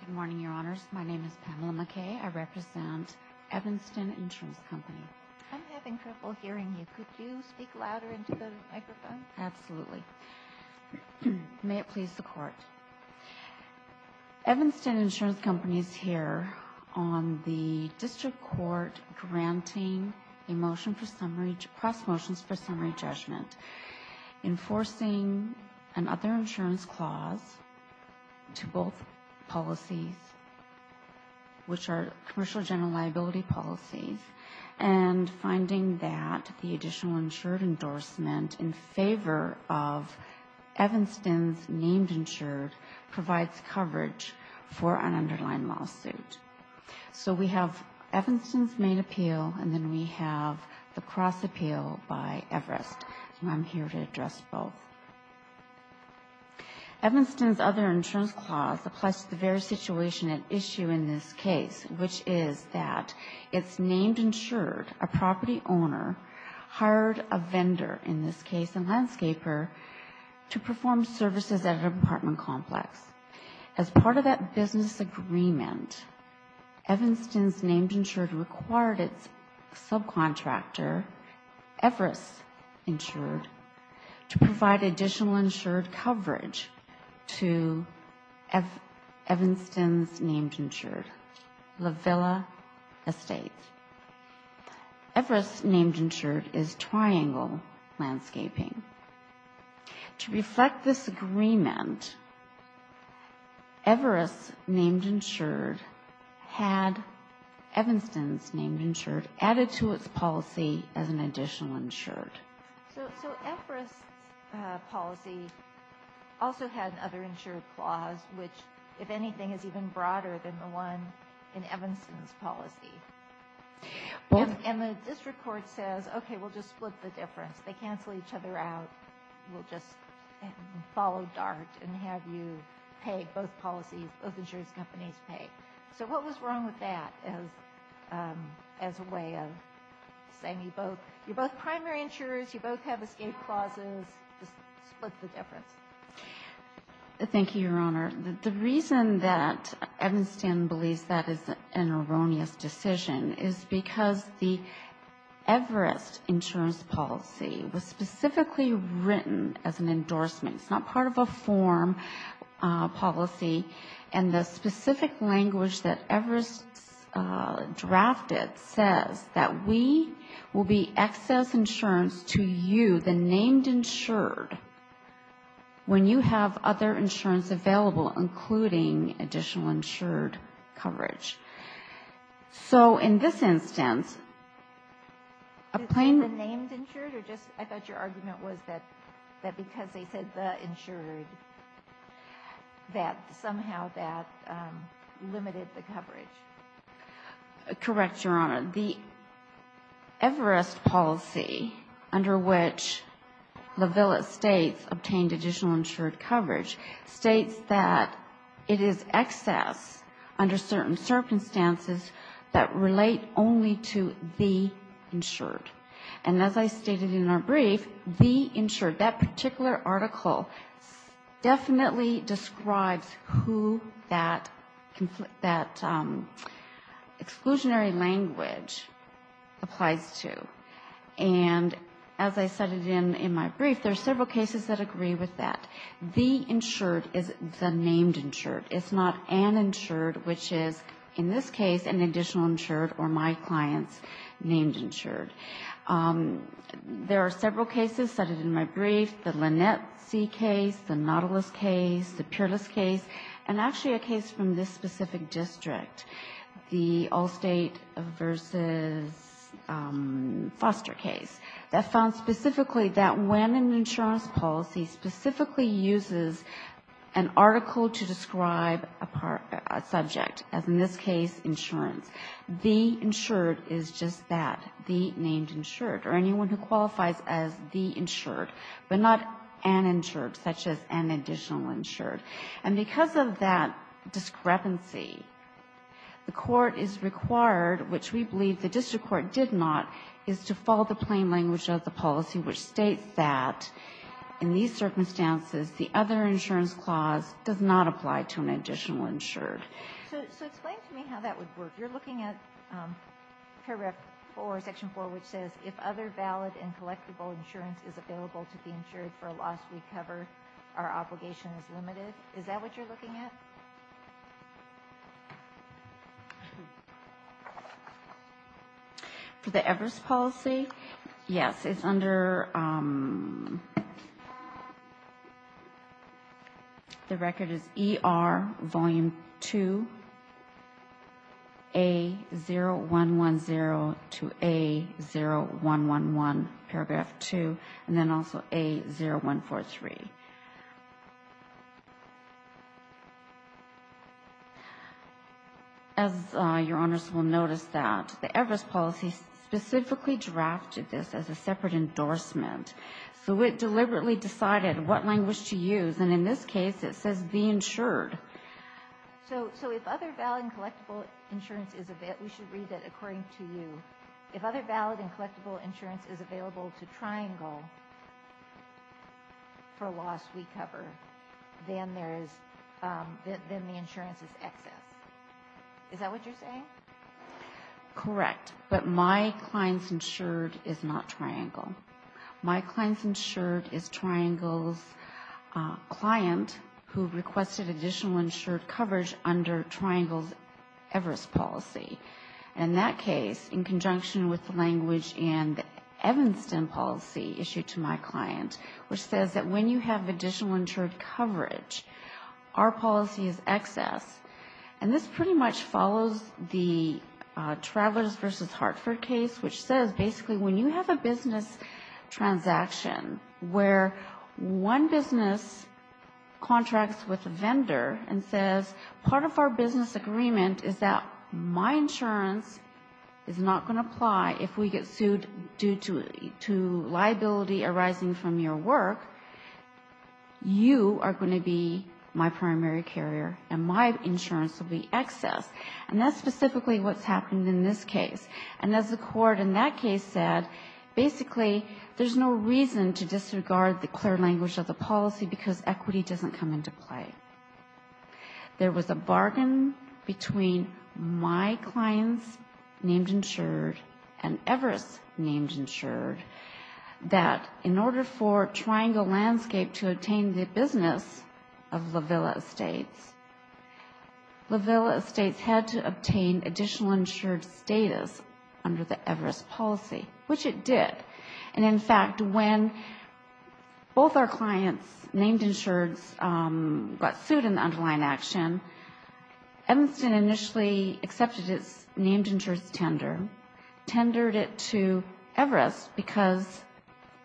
Good morning, Your Honors. My name is Pamela McKay. I represent Evanston Insurance Company. I'm having trouble hearing you. Could you speak louder into the microphone? Absolutely. May it please the Court. Evanston Insurance Company is here on the District Court granting a motion for summary, cross motions for summary judgment, enforcing another insurance clause to both policies, which are commercial general liability policies, and finding that the additional insured endorsement in favor of Evanston's named insured provides coverage for an underlying lawsuit. So we have Evanston's main appeal, and then we have the cross appeal by Everest. I'm here to address both. Evanston's other insurance clause applies to the very situation at issue in this case, which is that its named insured, a property owner, hired a vendor, in this case a landscaper, to perform services at an apartment complex. As part of that business agreement, Evanston's named insured required its subcontractor, Everest Insured, to provide additional insured coverage to Evanston's named insured, La Villa Estates. Everest's named insured is triangle landscaping. To reflect this agreement, Everest's named insured had Evanston's named insured added to its policy as an additional insured. So Everest's policy also had another insured clause, which, if anything, is even broader than the one in Evanston's policy. And the district court says, okay, we'll just split the difference. They cancel each other out. We'll just follow DART and have you pay both policies, both insurance companies pay. So what was wrong with that as a way of saying you're both primary insurers, you both have the same clauses, just split the difference? Thank you, Your Honor. The reason that Evanston believes that is an erroneous decision is because the Everest insurance policy was specifically written as an endorsement. It's not part of a form policy. And the specific language that Everest drafted says that we will be excess insurance to you, the named insured, when you have other insurance available, including additional insured coverage. So in this instance, a plain ---- The named insured? I thought your argument was that because they said the insured, that somehow that limited the coverage. Correct, Your Honor. The Everest policy, under which La Villa states obtained additional insured coverage, states that it is excess under certain circumstances that relate only to the insured. And as I stated in our brief, the insured, that particular article, definitely describes who that exclusionary language applies to. And as I said in my brief, there are several cases that agree with that. The insured is the named insured. It's not an insured, which is, in this case, an additional insured or my client's named insured. There are several cases cited in my brief, the Lynette C. case, the Nautilus case, the Peerless case, and actually a case from this specific district, the Allstate v. Foster case, that found specifically that when an insurance policy specifically uses an article to describe a subject, as in this case insurance, the insured is just that, the named insured, or anyone who qualifies as the insured, but not an insured, such as an additional insured. And because of that discrepancy, the Court is required, which we believe the district court did not, is to follow the plain language of the policy, which states that in these circumstances, the other insurance clause does not apply to an additional insured. So explain to me how that would work. You're looking at paragraph 4, section 4, which says, if other valid and collectible insurance is available to the insured for a loss we cover, our obligation is limited. Is that what you're looking at? For the Everest policy, yes. It's under, the record is ER Volume 2, A0110 to A0111, paragraph 2, and then also A0143. As Your Honors will notice that, the Everest policy specifically drafted this as a separate endorsement. So it deliberately decided what language to use. And in this case, it says be insured. So if other valid and collectible insurance is available, we should read that according to you. If other valid and collectible insurance is available to Triangle for a loss we cover, then there is, then the insurance is excess. Is that what you're saying? Correct. But my client's insured is not Triangle. My client's insured is Triangle's client who requested additional insured coverage under Triangle's Everest policy. In that case, in conjunction with the language in the Evanston policy issued to my client, which says that when you have additional insured coverage, our policy is excess. And this pretty much follows the Travelers versus Hartford case, which says basically when you have a business transaction where one business contracts with a vendor and says part of our business agreement is that my insurance is not going to apply if we get sued due to liability arising from your work, you are going to be my primary carrier and my insurance will be excess. And that's specifically what's happened in this case. And as the court in that case said, basically there's no reason to disregard the clear language of the policy because equity doesn't come into play. There was a bargain between my client's named insured and Everest named insured that in order for Triangle Landscape to obtain the business of La Villa Estates, La Villa Estates had to obtain additional insured status under the Everest policy, which it did. And in fact, when both our clients' named insureds got sued in the underlying action, Evanston initially accepted its named insured's tender, tendered it to Everest because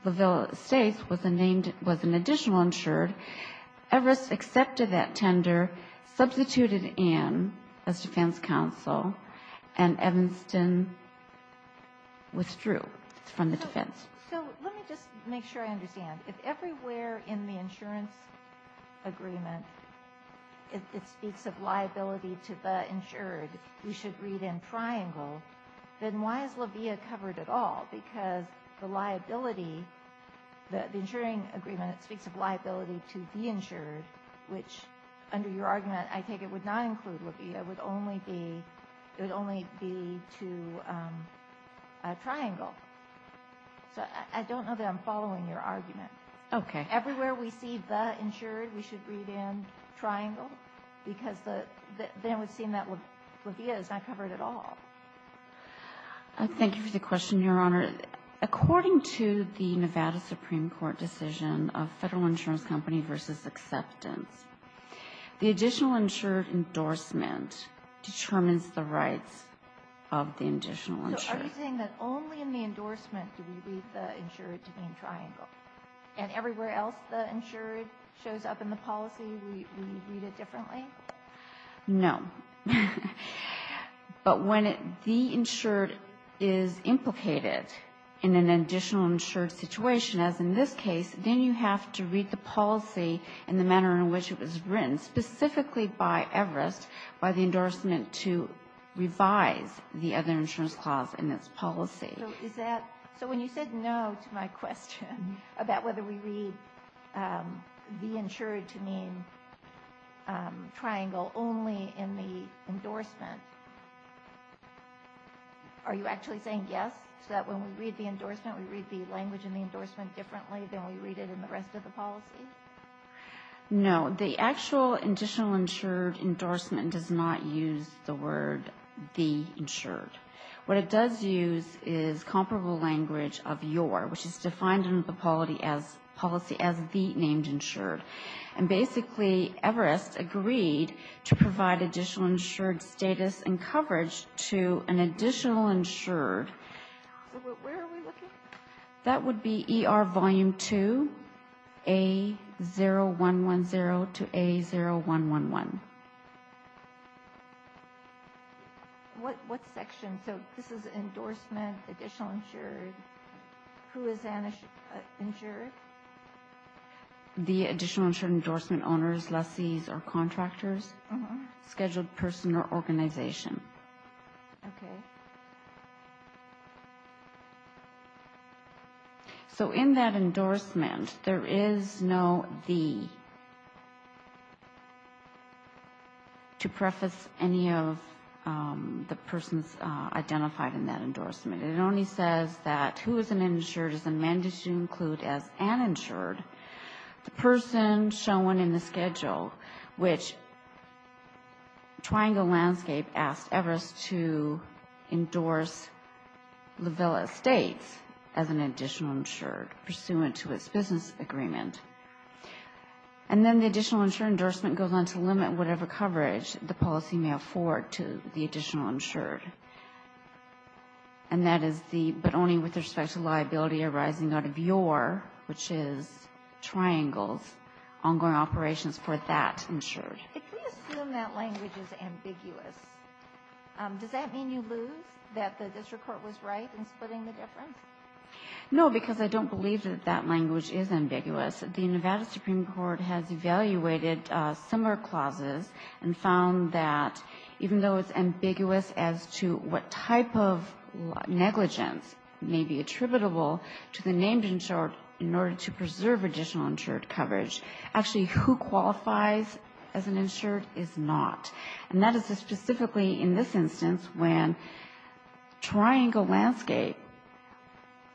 La Villa Estates was an additional insured. Everest accepted that tender, substituted in as defense counsel, and Evanston withdrew from the defense defense. So let me just make sure I understand. If everywhere in the insurance agreement it speaks of liability to the insured, we should read in triangle, then why is La Villa covered at all? Because the liability, the insuring agreement, it speaks of liability to the insured, which under your So I don't know that I'm following your argument. Okay. Everywhere we see the insured, we should read in triangle because then we've seen that La Villa is not covered at all. Thank you for the question, Your Honor. According to the Nevada Supreme Court decision of Federal Insurance Company versus Acceptance, the additional insured endorsement determines the rights of the additional insured. So are you saying that only in the endorsement do we read the insured to be in triangle? And everywhere else the insured shows up in the policy, we read it differently? No. But when the insured is implicated in an additional insured situation, as in this case, then you have to read the policy in the manner in which it was written, specifically by Everest, by the endorsement to revise the other insurance clause in its policy. So is that, so when you said no to my question about whether we read the insured to mean triangle only in the endorsement, are you actually saying yes, so that when we read the endorsement, we read the language in the endorsement differently than we read it in the rest of the policy? No. The actual additional insured endorsement does not use the word the insured. What it does use is comparable language of your, which is defined in the policy as the named insured. And basically Everest agreed to provide additional insured status and coverage to an additional insured. So where are we looking? That would be ER Volume 2, A0110 to A0111. What section? So this is endorsement, additional insured. Who is an insured? The additional insured endorsement owners, lessees, or contractors, scheduled person or organization. Okay. So in that endorsement, there is no the to preface any of the persons identified in that endorsement. It only says that who is an insured is amended to include as an insured the person shown in the schedule, which Triangle Landscape asked Everest to endorse LaVilla Estates as an additional insured, pursuant to its business agreement. And then the additional insured endorsement goes on to limit whatever coverage the policy may afford to the additional insured. And that is the, but only with respect to liability arising out of your, which is Triangles, ongoing operations for that insured. If we assume that language is ambiguous, does that mean you lose that the district court was right in splitting the difference? No, because I don't believe that that language is ambiguous. The Nevada Supreme Court has evaluated similar clauses and found that even though it's ambiguous as to what type of negligence may be attributable to the named insured in order to preserve additional insured coverage, actually who qualifies as an insured is not. And that is specifically in this instance when Triangle Landscape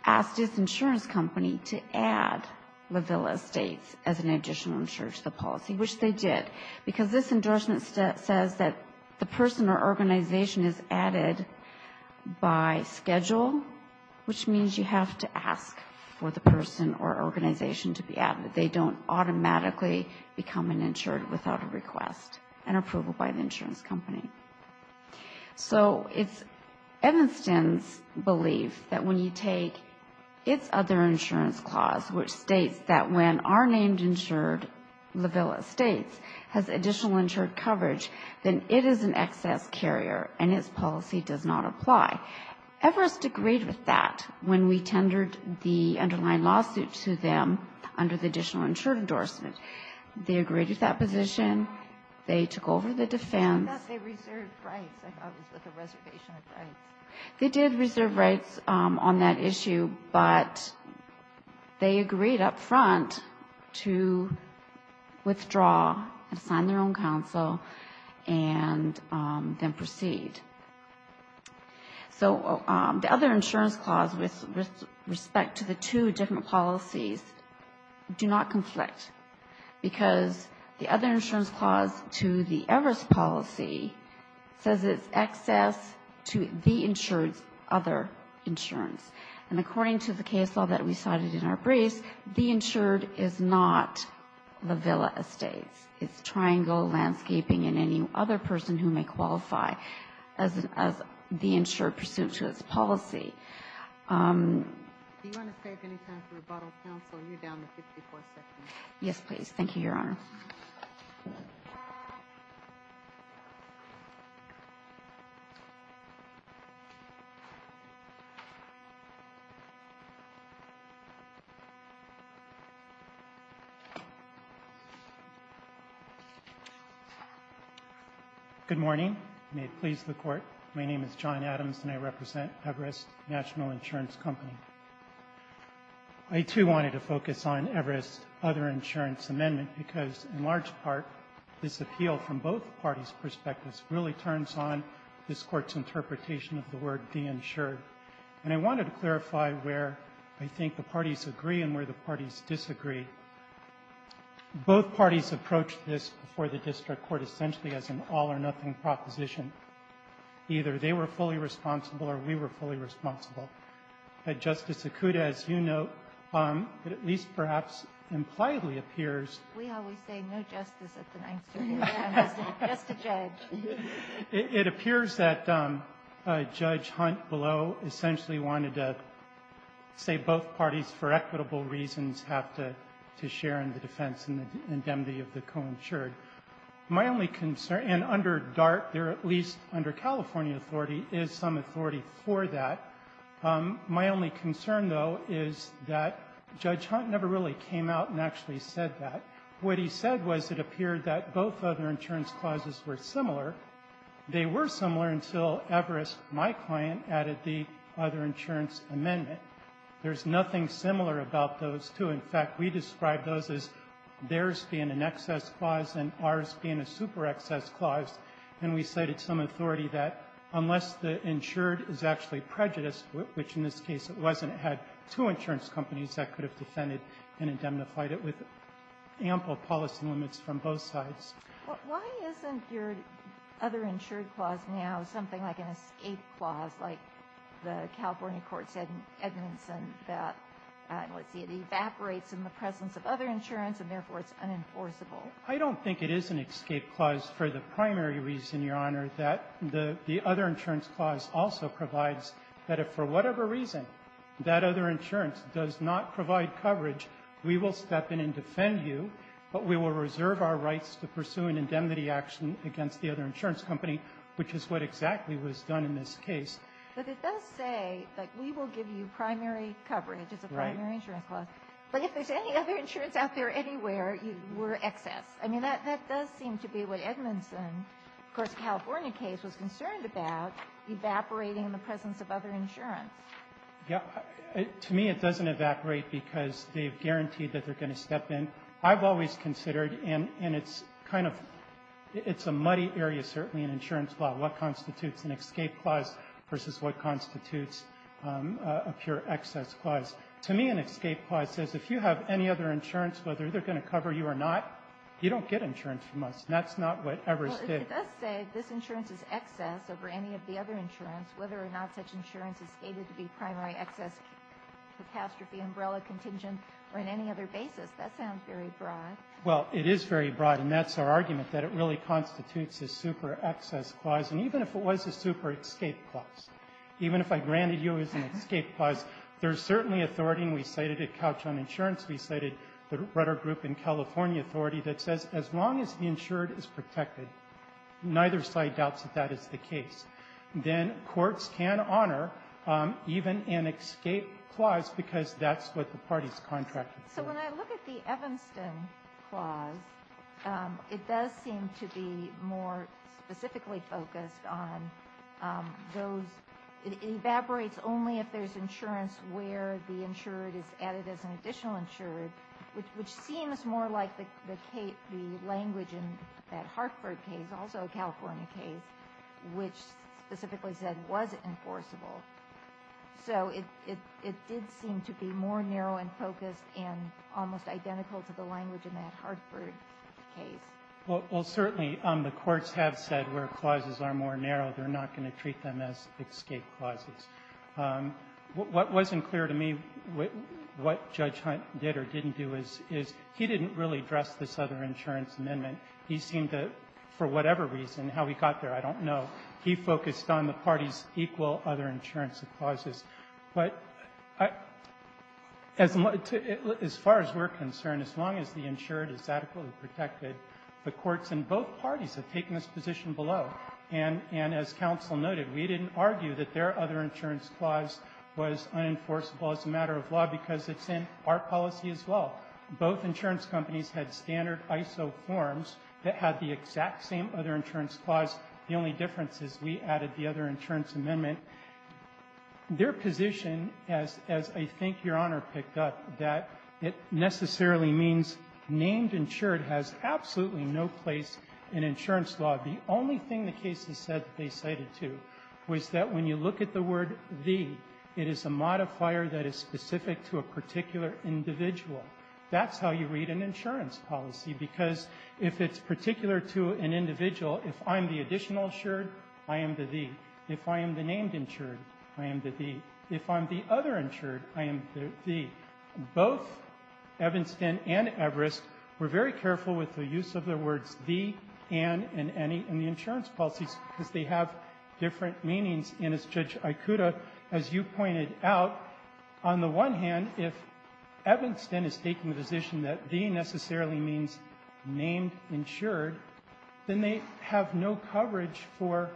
asked its insurance company to add LaVilla Estates as an additional insured to the policy, which they did. Because this endorsement says that the person or organization is added by schedule, which means you have to ask for the person or organization to be added. They don't automatically become an insured without a request and approval by the insurance company. So it's Evanston's belief that when you take its other insurance clause, which states that when our named insured, LaVilla Estates, has additional insured coverage, then it is an excess carrier and its policy does not apply. Everest agreed with that when we tendered the underlying lawsuit to them under the additional insured endorsement. They agreed with that position. They took over the defense. I thought they reserved rights. I thought it was with a reservation of rights. They did reserve rights on that issue, but they agreed up front to withdraw, assign their own counsel, and then proceed. So the other insurance clause with respect to the two different policies do not conflict because the other insurance clause to the Everest policy says it's excess to the insured's other insurance. And according to the case law that we cited in our briefs, the insured is not LaVilla Estates. It's Triangle Landscaping and any other person who may qualify as the insured pursuant to its policy. Do you want to save any time for rebuttal, counsel? You're down to 54 seconds. Yes, please. Thank you, Your Honor. Good morning. May it please the Court. My name is John Adams, and I represent Everest National Insurance Company. I, too, wanted to focus on Everest's other insurance amendment because, in large part, this appeal from both parties' perspectives really turns on this Court's interpretation of the word de-insured. And I wanted to clarify where I think the parties agree and where the parties disagree. Both parties approached this before the district court essentially as an all-or-nothing proposition. Either they were fully responsible or we were fully responsible. Justice Sokouda, as you note, it at least perhaps impliedly appears we always say no justice at the 9th Circuit. Just a judge. It appears that Judge Hunt below essentially wanted to say both parties, for equitable reasons, have to share in the defense and the indemnity of the co-insured. My only concern, and under DART, there at least under California authority, is some authority for that. My only concern, though, is that Judge Hunt never really came out and actually said that. What he said was it appeared that both other insurance clauses were similar. They were similar until Everest, my client, added the other insurance amendment. There's nothing similar about those two. In fact, we describe those as theirs being an excess clause and ours being a super excess clause. And we cited some authority that unless the insured is actually prejudiced, which in this case it wasn't, it had two insurance companies that could have defended and indemnified it with ample policy limits from both sides. Why isn't your other insured clause now something like an escape clause, like the other insurance clause, where there's evidence and that, let's see, it evaporates in the presence of other insurance and therefore it's unenforceable? I don't think it is an escape clause for the primary reason, Your Honor, that the other insurance clause also provides that if for whatever reason that other insurance does not provide coverage, we will step in and defend you, but we will reserve our rights to pursue an indemnity action against the other insurance company, which is what exactly was done in this case. But it does say that we will give you primary coverage as a primary insurance clause. Right. But if there's any other insurance out there anywhere, we're excess. I mean, that does seem to be what Edmondson, of course, the California case was concerned about, evaporating in the presence of other insurance. Yeah. To me, it doesn't evaporate because they've guaranteed that they're going to step in. I've always considered, and it's kind of, it's a muddy area, certainly, in insurance law, what constitutes an escape clause versus what constitutes a pure excess clause. To me, an escape clause says if you have any other insurance, whether they're going to cover you or not, you don't get insurance from us, and that's not what Evers did. Well, it does say this insurance is excess over any of the other insurance, whether or not such insurance is stated to be primary excess, catastrophe, umbrella, contingent, or in any other basis. That sounds very broad. Well, it is very broad, and that's our argument, that it really constitutes a super excess clause. And even if it was a super escape clause, even if I granted you as an escape clause, there's certainly authority, and we cited at Couch on Insurance, we cited the Rutter Group in California authority that says as long as the insured is protected, neither side doubts that that is the case. Then courts can honor even an escape clause because that's what the parties contracted. So when I look at the Evanston clause, it does seem to be more specifically focused on those. It evaporates only if there's insurance where the insured is added as an additional insured, which seems more like the language in that Hartford case, also a California case, which specifically said was it enforceable. So it did seem to be more narrow and focused and almost identical to the language in that Hartford case. Well, certainly the courts have said where clauses are more narrow, they're not going to treat them as escape clauses. What wasn't clear to me what Judge Hunt did or didn't do is he didn't really address this other insurance amendment. He seemed to, for whatever reason, how he got there, I don't know, he focused on the parties' equal other insurance clauses. But as far as we're concerned, as long as the insured is adequately protected, the courts in both parties have taken this position below. And as counsel noted, we didn't argue that their other insurance clause was unenforceable as a matter of law because it's in our policy as well. Both insurance companies had standard ISO forms that had the exact same other insurance clause. The only difference is we added the other insurance amendment. Their position, as I think Your Honor picked up, that it necessarily means named insured has absolutely no place in insurance law. The only thing the case has said that they cited, too, was that when you look at the other individual, that's how you read an insurance policy, because if it's particular to an individual, if I'm the additional insured, I am the the. If I am the named insured, I am the the. If I'm the other insured, I am the the. Both Evanston and Everest were very careful with the use of the words the, and, and any in the insurance policies because they have different meanings. And as Judge Ikuta, as you pointed out, on the one hand, if Evanston is taking the position that the necessarily means named insured, then they have no coverage for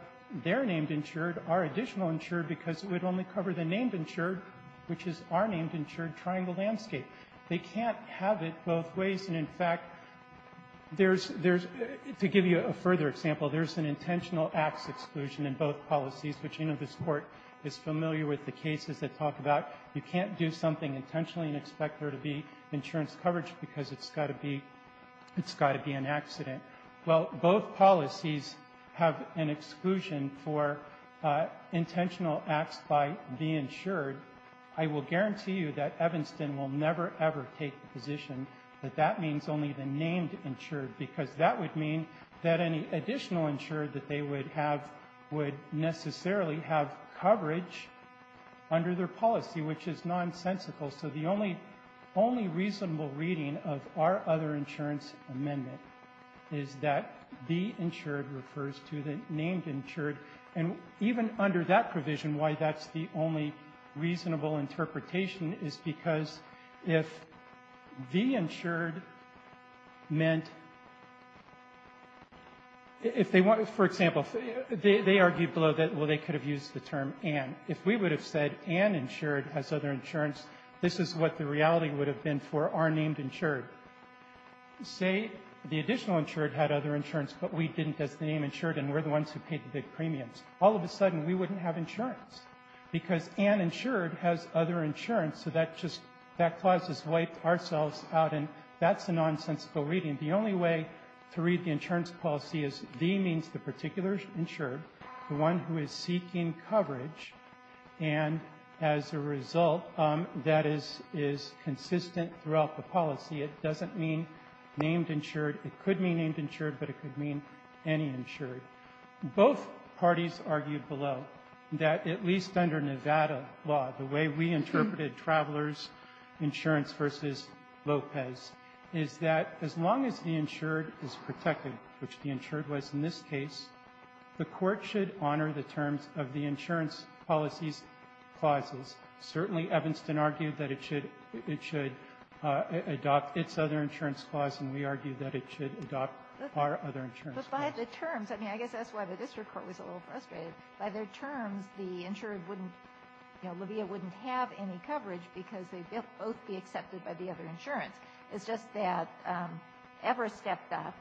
their named insured, our additional insured, because it would only cover the named insured, which is our named insured triangle landscape. They can't have it both ways. And, in fact, there's to give you a further example, there's an intentional acts exclusion in both policies, which I know this Court is familiar with the cases that talk about. You can't do something intentionally and expect there to be insurance coverage because it's got to be, it's got to be an accident. Well, both policies have an exclusion for intentional acts by the insured. I will guarantee you that Evanston will never, ever take the position that that means only the named insured because that would mean that any additional insured that they would have would necessarily have coverage under their policy, which is nonsensical. So the only, only reasonable reading of our other insurance amendment is that the insured refers to the named insured. And even under that provision, why that's the only reasonable interpretation is because if the insured meant, if they want, for example, they argued below that, well, they could have used the term and. If we would have said and insured has other insurance, this is what the reality would have been for our named insured. Say the additional insured had other insurance, but we didn't as the named insured and we're the ones who paid the big premiums. All of a sudden we wouldn't have insurance because and insured has other insurance, so that just, that clause has wiped ourselves out and that's a nonsensical reading. The only way to read the insurance policy is the means the particular insured, the one who is seeking coverage, and as a result, that is consistent throughout the policy. It doesn't mean named insured. It could mean named insured, but it could mean any insured. Both parties argued below that at least under Nevada law, the way we interpreted Travelers Insurance v. Lopez is that as long as the insured is protected, which the insured was in this case, the Court should honor the terms of the insurance policies clauses. Certainly, Evanston argued that it should adopt its other insurance clause, and we argued that it should adopt our other insurance clause. But by the terms, I mean, I guess that's why the district court was a little frustrated. By their terms, the insured wouldn't, you know, Livia wouldn't have any coverage because they'd both be accepted by the other insurance. It's just that Everest stepped up.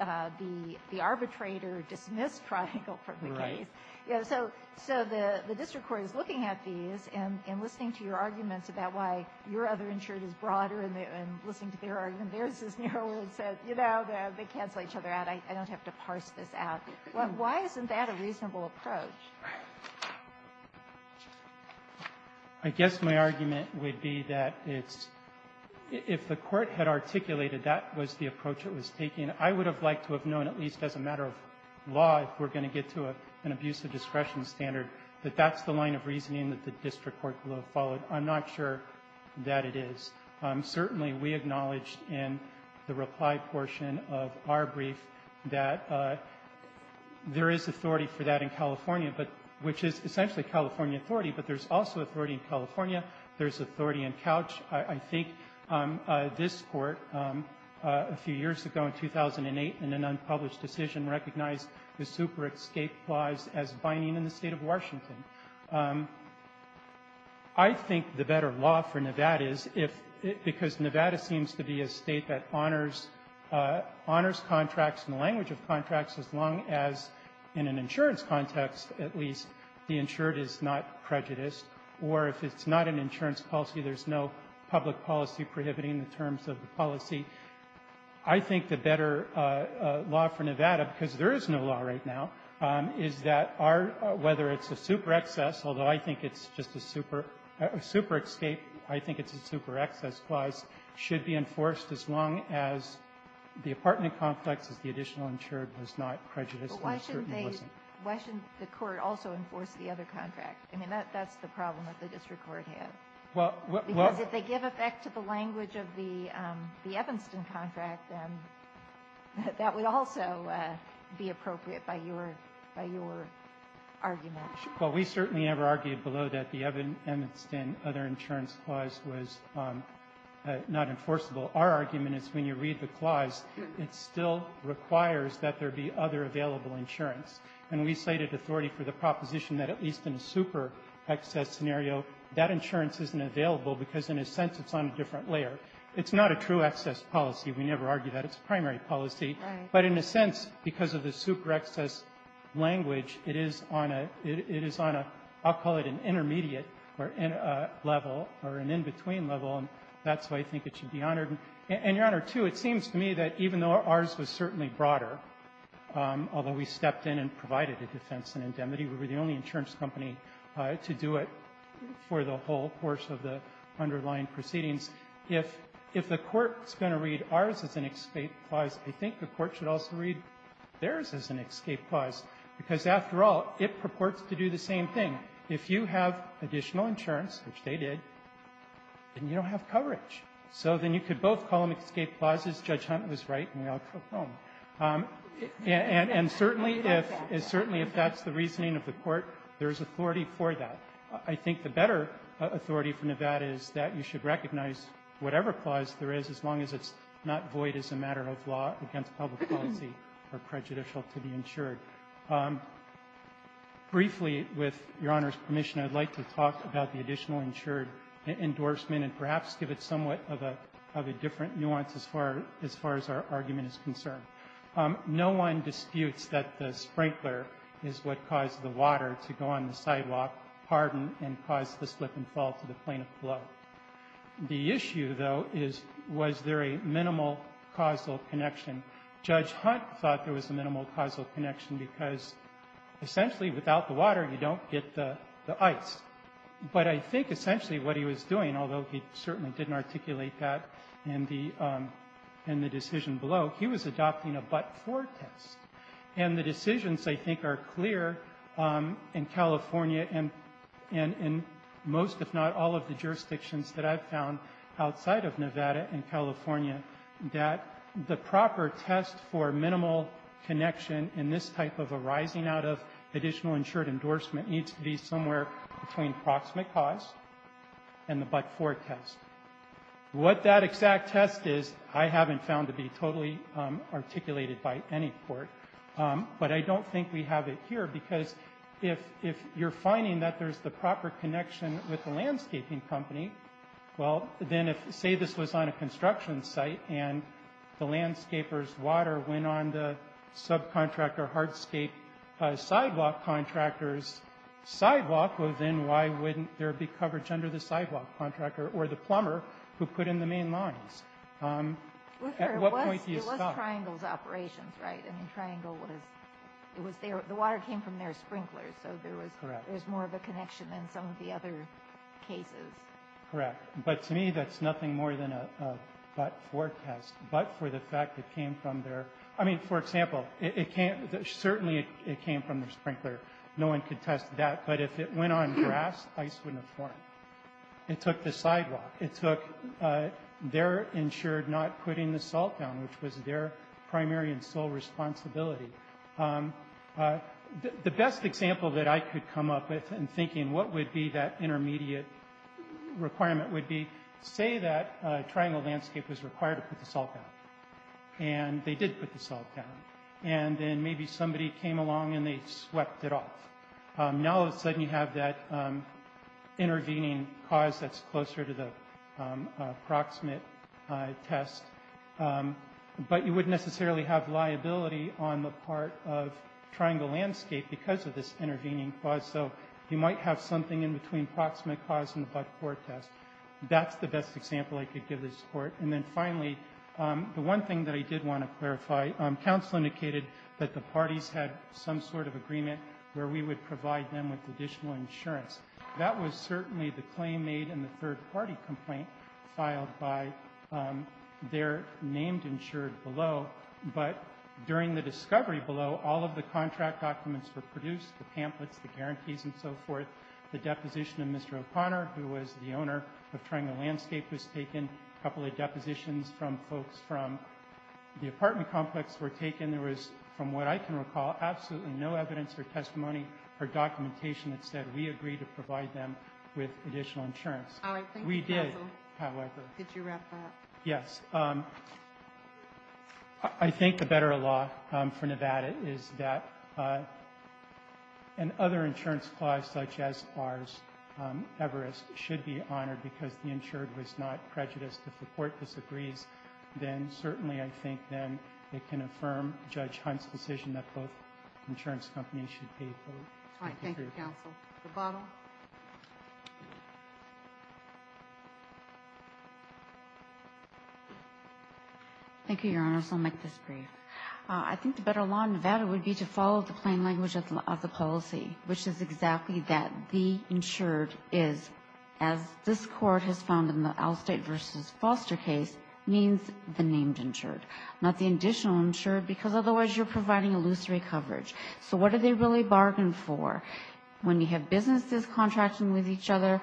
The arbitrator dismissed Triangle from the case. Right. So the district court is looking at these and listening to your arguments about why your other insured is broader and listening to their argument, theirs is narrower and says, you know, they cancel each other out. I don't have to parse this out. Why isn't that a reasonable approach? I guess my argument would be that it's — if the Court had articulated that was the approach it was taking, I would have liked to have known, at least as a matter of law, if we're going to get to an abusive discretion standard, that that's the line of reasoning that the district court would have followed. I'm not sure that it is. Certainly, we acknowledged in the reply portion of our brief that there is authority for that in California, but — which is essentially California authority, but there's also authority in California. There's authority in Couch. I think this Court, a few years ago, in 2008, in an unpublished decision, recognized the super escape clause as binding in the State of Washington. I think the better law for Nevada is if — because Nevada seems to be a State that honors contracts and the language of contracts as long as, in an insurance context at least, the insured is not prejudiced, or if it's not an insurance policy, there's no public policy prohibiting the terms of the policy. I think the better law for Nevada, because there is no law right now, is that our — whether it's a super excess, although I think it's just a super escape, I think it's a super excess clause, should be enforced as long as the apartment complex is the additional insured is not prejudiced. But why shouldn't they — why shouldn't the Court also enforce the other contract? I mean, that's the problem that the district court has. Because if they give effect to the language of the Evanston contract, then that would also be appropriate by your — by your argument. Well, we certainly never argued below that the Evanston other insurance clause was not enforceable. Our argument is when you read the clause, it still requires that there be other available insurance. And we cited authority for the proposition that at least in a super excess scenario, that insurance isn't available because, in a sense, it's on a different layer. It's not a true excess policy. We never argue that. It's a primary policy. But in a sense, because of the super excess language, it is on a — it is on a — I'll call it an intermediate level or an in-between level. And that's why I think it should be honored. And, Your Honor, too, it seems to me that even though ours was certainly broader, although we stepped in and provided a defense indemnity, we were the only insurance company to do it for the whole course of the underlying proceedings. If the Court is going to read ours as an escape clause, I think the Court should also read theirs as an escape clause, because, after all, it purports to do the same thing. If you have additional insurance, which they did, then you don't have coverage. So then you could both call them escape clauses. Judge Hunt was right, and we all took home. And certainly if that's the reasoning of the Court, there's authority for that. I think the better authority for Nevada is that you should recognize whatever clause there is, as long as it's not void as a matter of law against public policy or prejudicial to the insured. Briefly, with Your Honor's permission, I'd like to talk about the additional insured endorsement and perhaps give it somewhat of a — of a different nuance as far — as far as our argument is concerned. No one disputes that the sprinkler is what caused the water to go on the sidewalk, harden, and cause the slip and fall to the plaintiff below. The issue, though, is was there a minimal causal connection. Judge Hunt thought there was a minimal causal connection because, essentially, without the water, you don't get the ice. But I think essentially what he was doing, although he certainly didn't articulate that in the — in the decision below, he was adopting a but-for test. And the decisions, I think, are clear in California and — and in most, if not all, of the jurisdictions that I've found outside of Nevada and California that the proper test for minimal connection in this type of arising out of additional insured endorsement needs to be somewhere between proximate cause and the but-for test. What that exact test is, I haven't found to be totally articulated by any court. But I don't think we have it here because if — if you're finding that there's the proper connection with the landscaping company, well, then if — say this was on a construction site and the landscaper's water went on the subcontractor hardscape sidewalk contractor's sidewalk, well, then why wouldn't there be coverage under the sidewalk contractor or the plumber who put in the main lines? At what point do you stop? It was Triangle's operations, right? I mean, Triangle was — it was their — the water came from their sprinklers, so there was — Correct. There's more of a connection than some of the other cases. Correct. But to me, that's nothing more than a but-for test. But for the fact it came from their — I mean, for example, it can't — certainly it came from their sprinkler. No one could test that. But if it went on grass, ice wouldn't have formed. It took the sidewalk. It took their — ensured not putting the salt down, which was their primary and sole responsibility. The best example that I could come up with in thinking what would be that intermediate requirement would be, say that Triangle Landscape was required to put the salt down. And they did put the salt down. And then maybe somebody came along and they swept it off. Now all of a sudden you have that intervening cause that's closer to the proximate test. But you wouldn't necessarily have liability on the part of Triangle Landscape because of this intervening cause. So you might have something in between proximate cause and the but-for test. That's the best example I could give this Court. And then finally, the one thing that I did want to clarify, counsel indicated that the parties had some sort of agreement where we would provide them with additional insurance. That was certainly the claim made in the third-party complaint filed by their named ensured below. But during the discovery below, all of the contract documents were produced, the pamphlets, the guarantees and so forth. The deposition of Mr. O'Connor, who was the owner of Triangle Landscape, was taken. A couple of depositions from folks from the apartment complex were taken. And there was, from what I can recall, absolutely no evidence or testimony or documentation that said we agreed to provide them with additional insurance. We did, however. Did you wrap that up? Yes. I think the better law for Nevada is that an other insurance clause such as ours, Everest, should be honored because the insured was not prejudiced. If the Court disagrees, then certainly, I think, then it can affirm Judge Hunt's decision that both insurance companies should pay for it. Thank you, counsel. Rebuttal. Thank you, Your Honors. I'll make this brief. I think the better law in Nevada would be to follow the plain language of the policy, which is exactly that the insured is, as this Court has found in the Alstate v. Foster case, means the named insured, not the additional insured because otherwise you're providing illusory coverage. So what do they really bargain for? When you have businesses contracting with each other,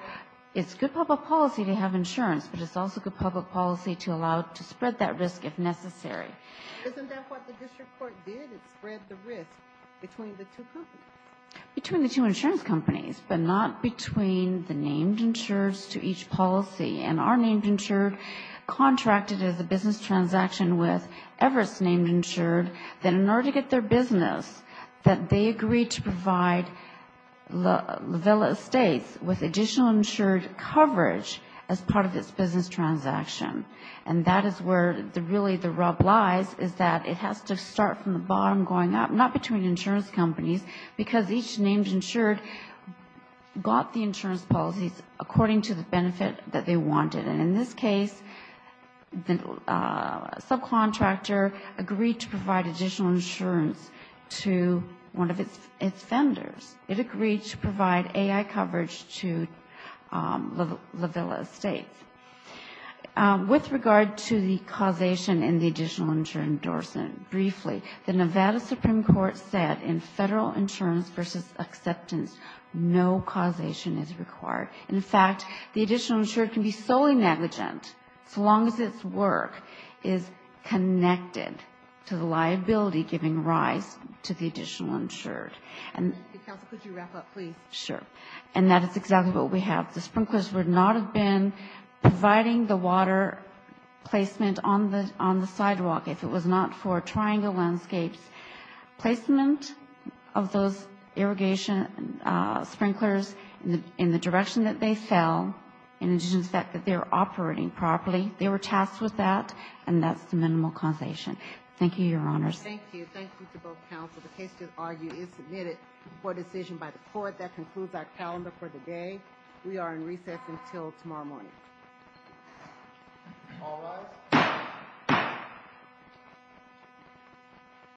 it's good public policy to have insurance, but it's also good public policy to allow to spread that risk if necessary. Isn't that what the district court did? It spread the risk between the two companies? Between the two insurance companies, but not between the named insureds to each policy. And our named insured contracted as a business transaction with Everest Named Insured that in order to get their business, that they agreed to provide La Villa Estates with additional insured coverage as part of its business transaction. And that is where really the rub lies is that it has to start from the bottom going up, not between insurance companies, because each named insured got the insurance policies according to the benefit that they wanted. And in this case, the subcontractor agreed to provide additional insurance to one of its vendors. It agreed to provide AI coverage to La Villa Estates. With regard to the causation in the additional insured endorsement, briefly, the Nevada Supreme Court said in federal insurance versus acceptance, no causation is required. In fact, the additional insured can be solely negligent so long as its work is connected to the liability giving rise to the additional insured. And that is exactly what we have. The sprinklers would not have been providing the water placement on the sidewalk if it was not for triangle landscapes. Placement of those irrigation sprinklers in the direction that they fell and in addition to the fact that they were operating properly, they were tasked with that and that's the minimal causation. Thank you, Your Honors. Thank you. Thank you to both counsels. The case is submitted for decision by the court. That concludes our calendar for the day. We are in recess until tomorrow morning.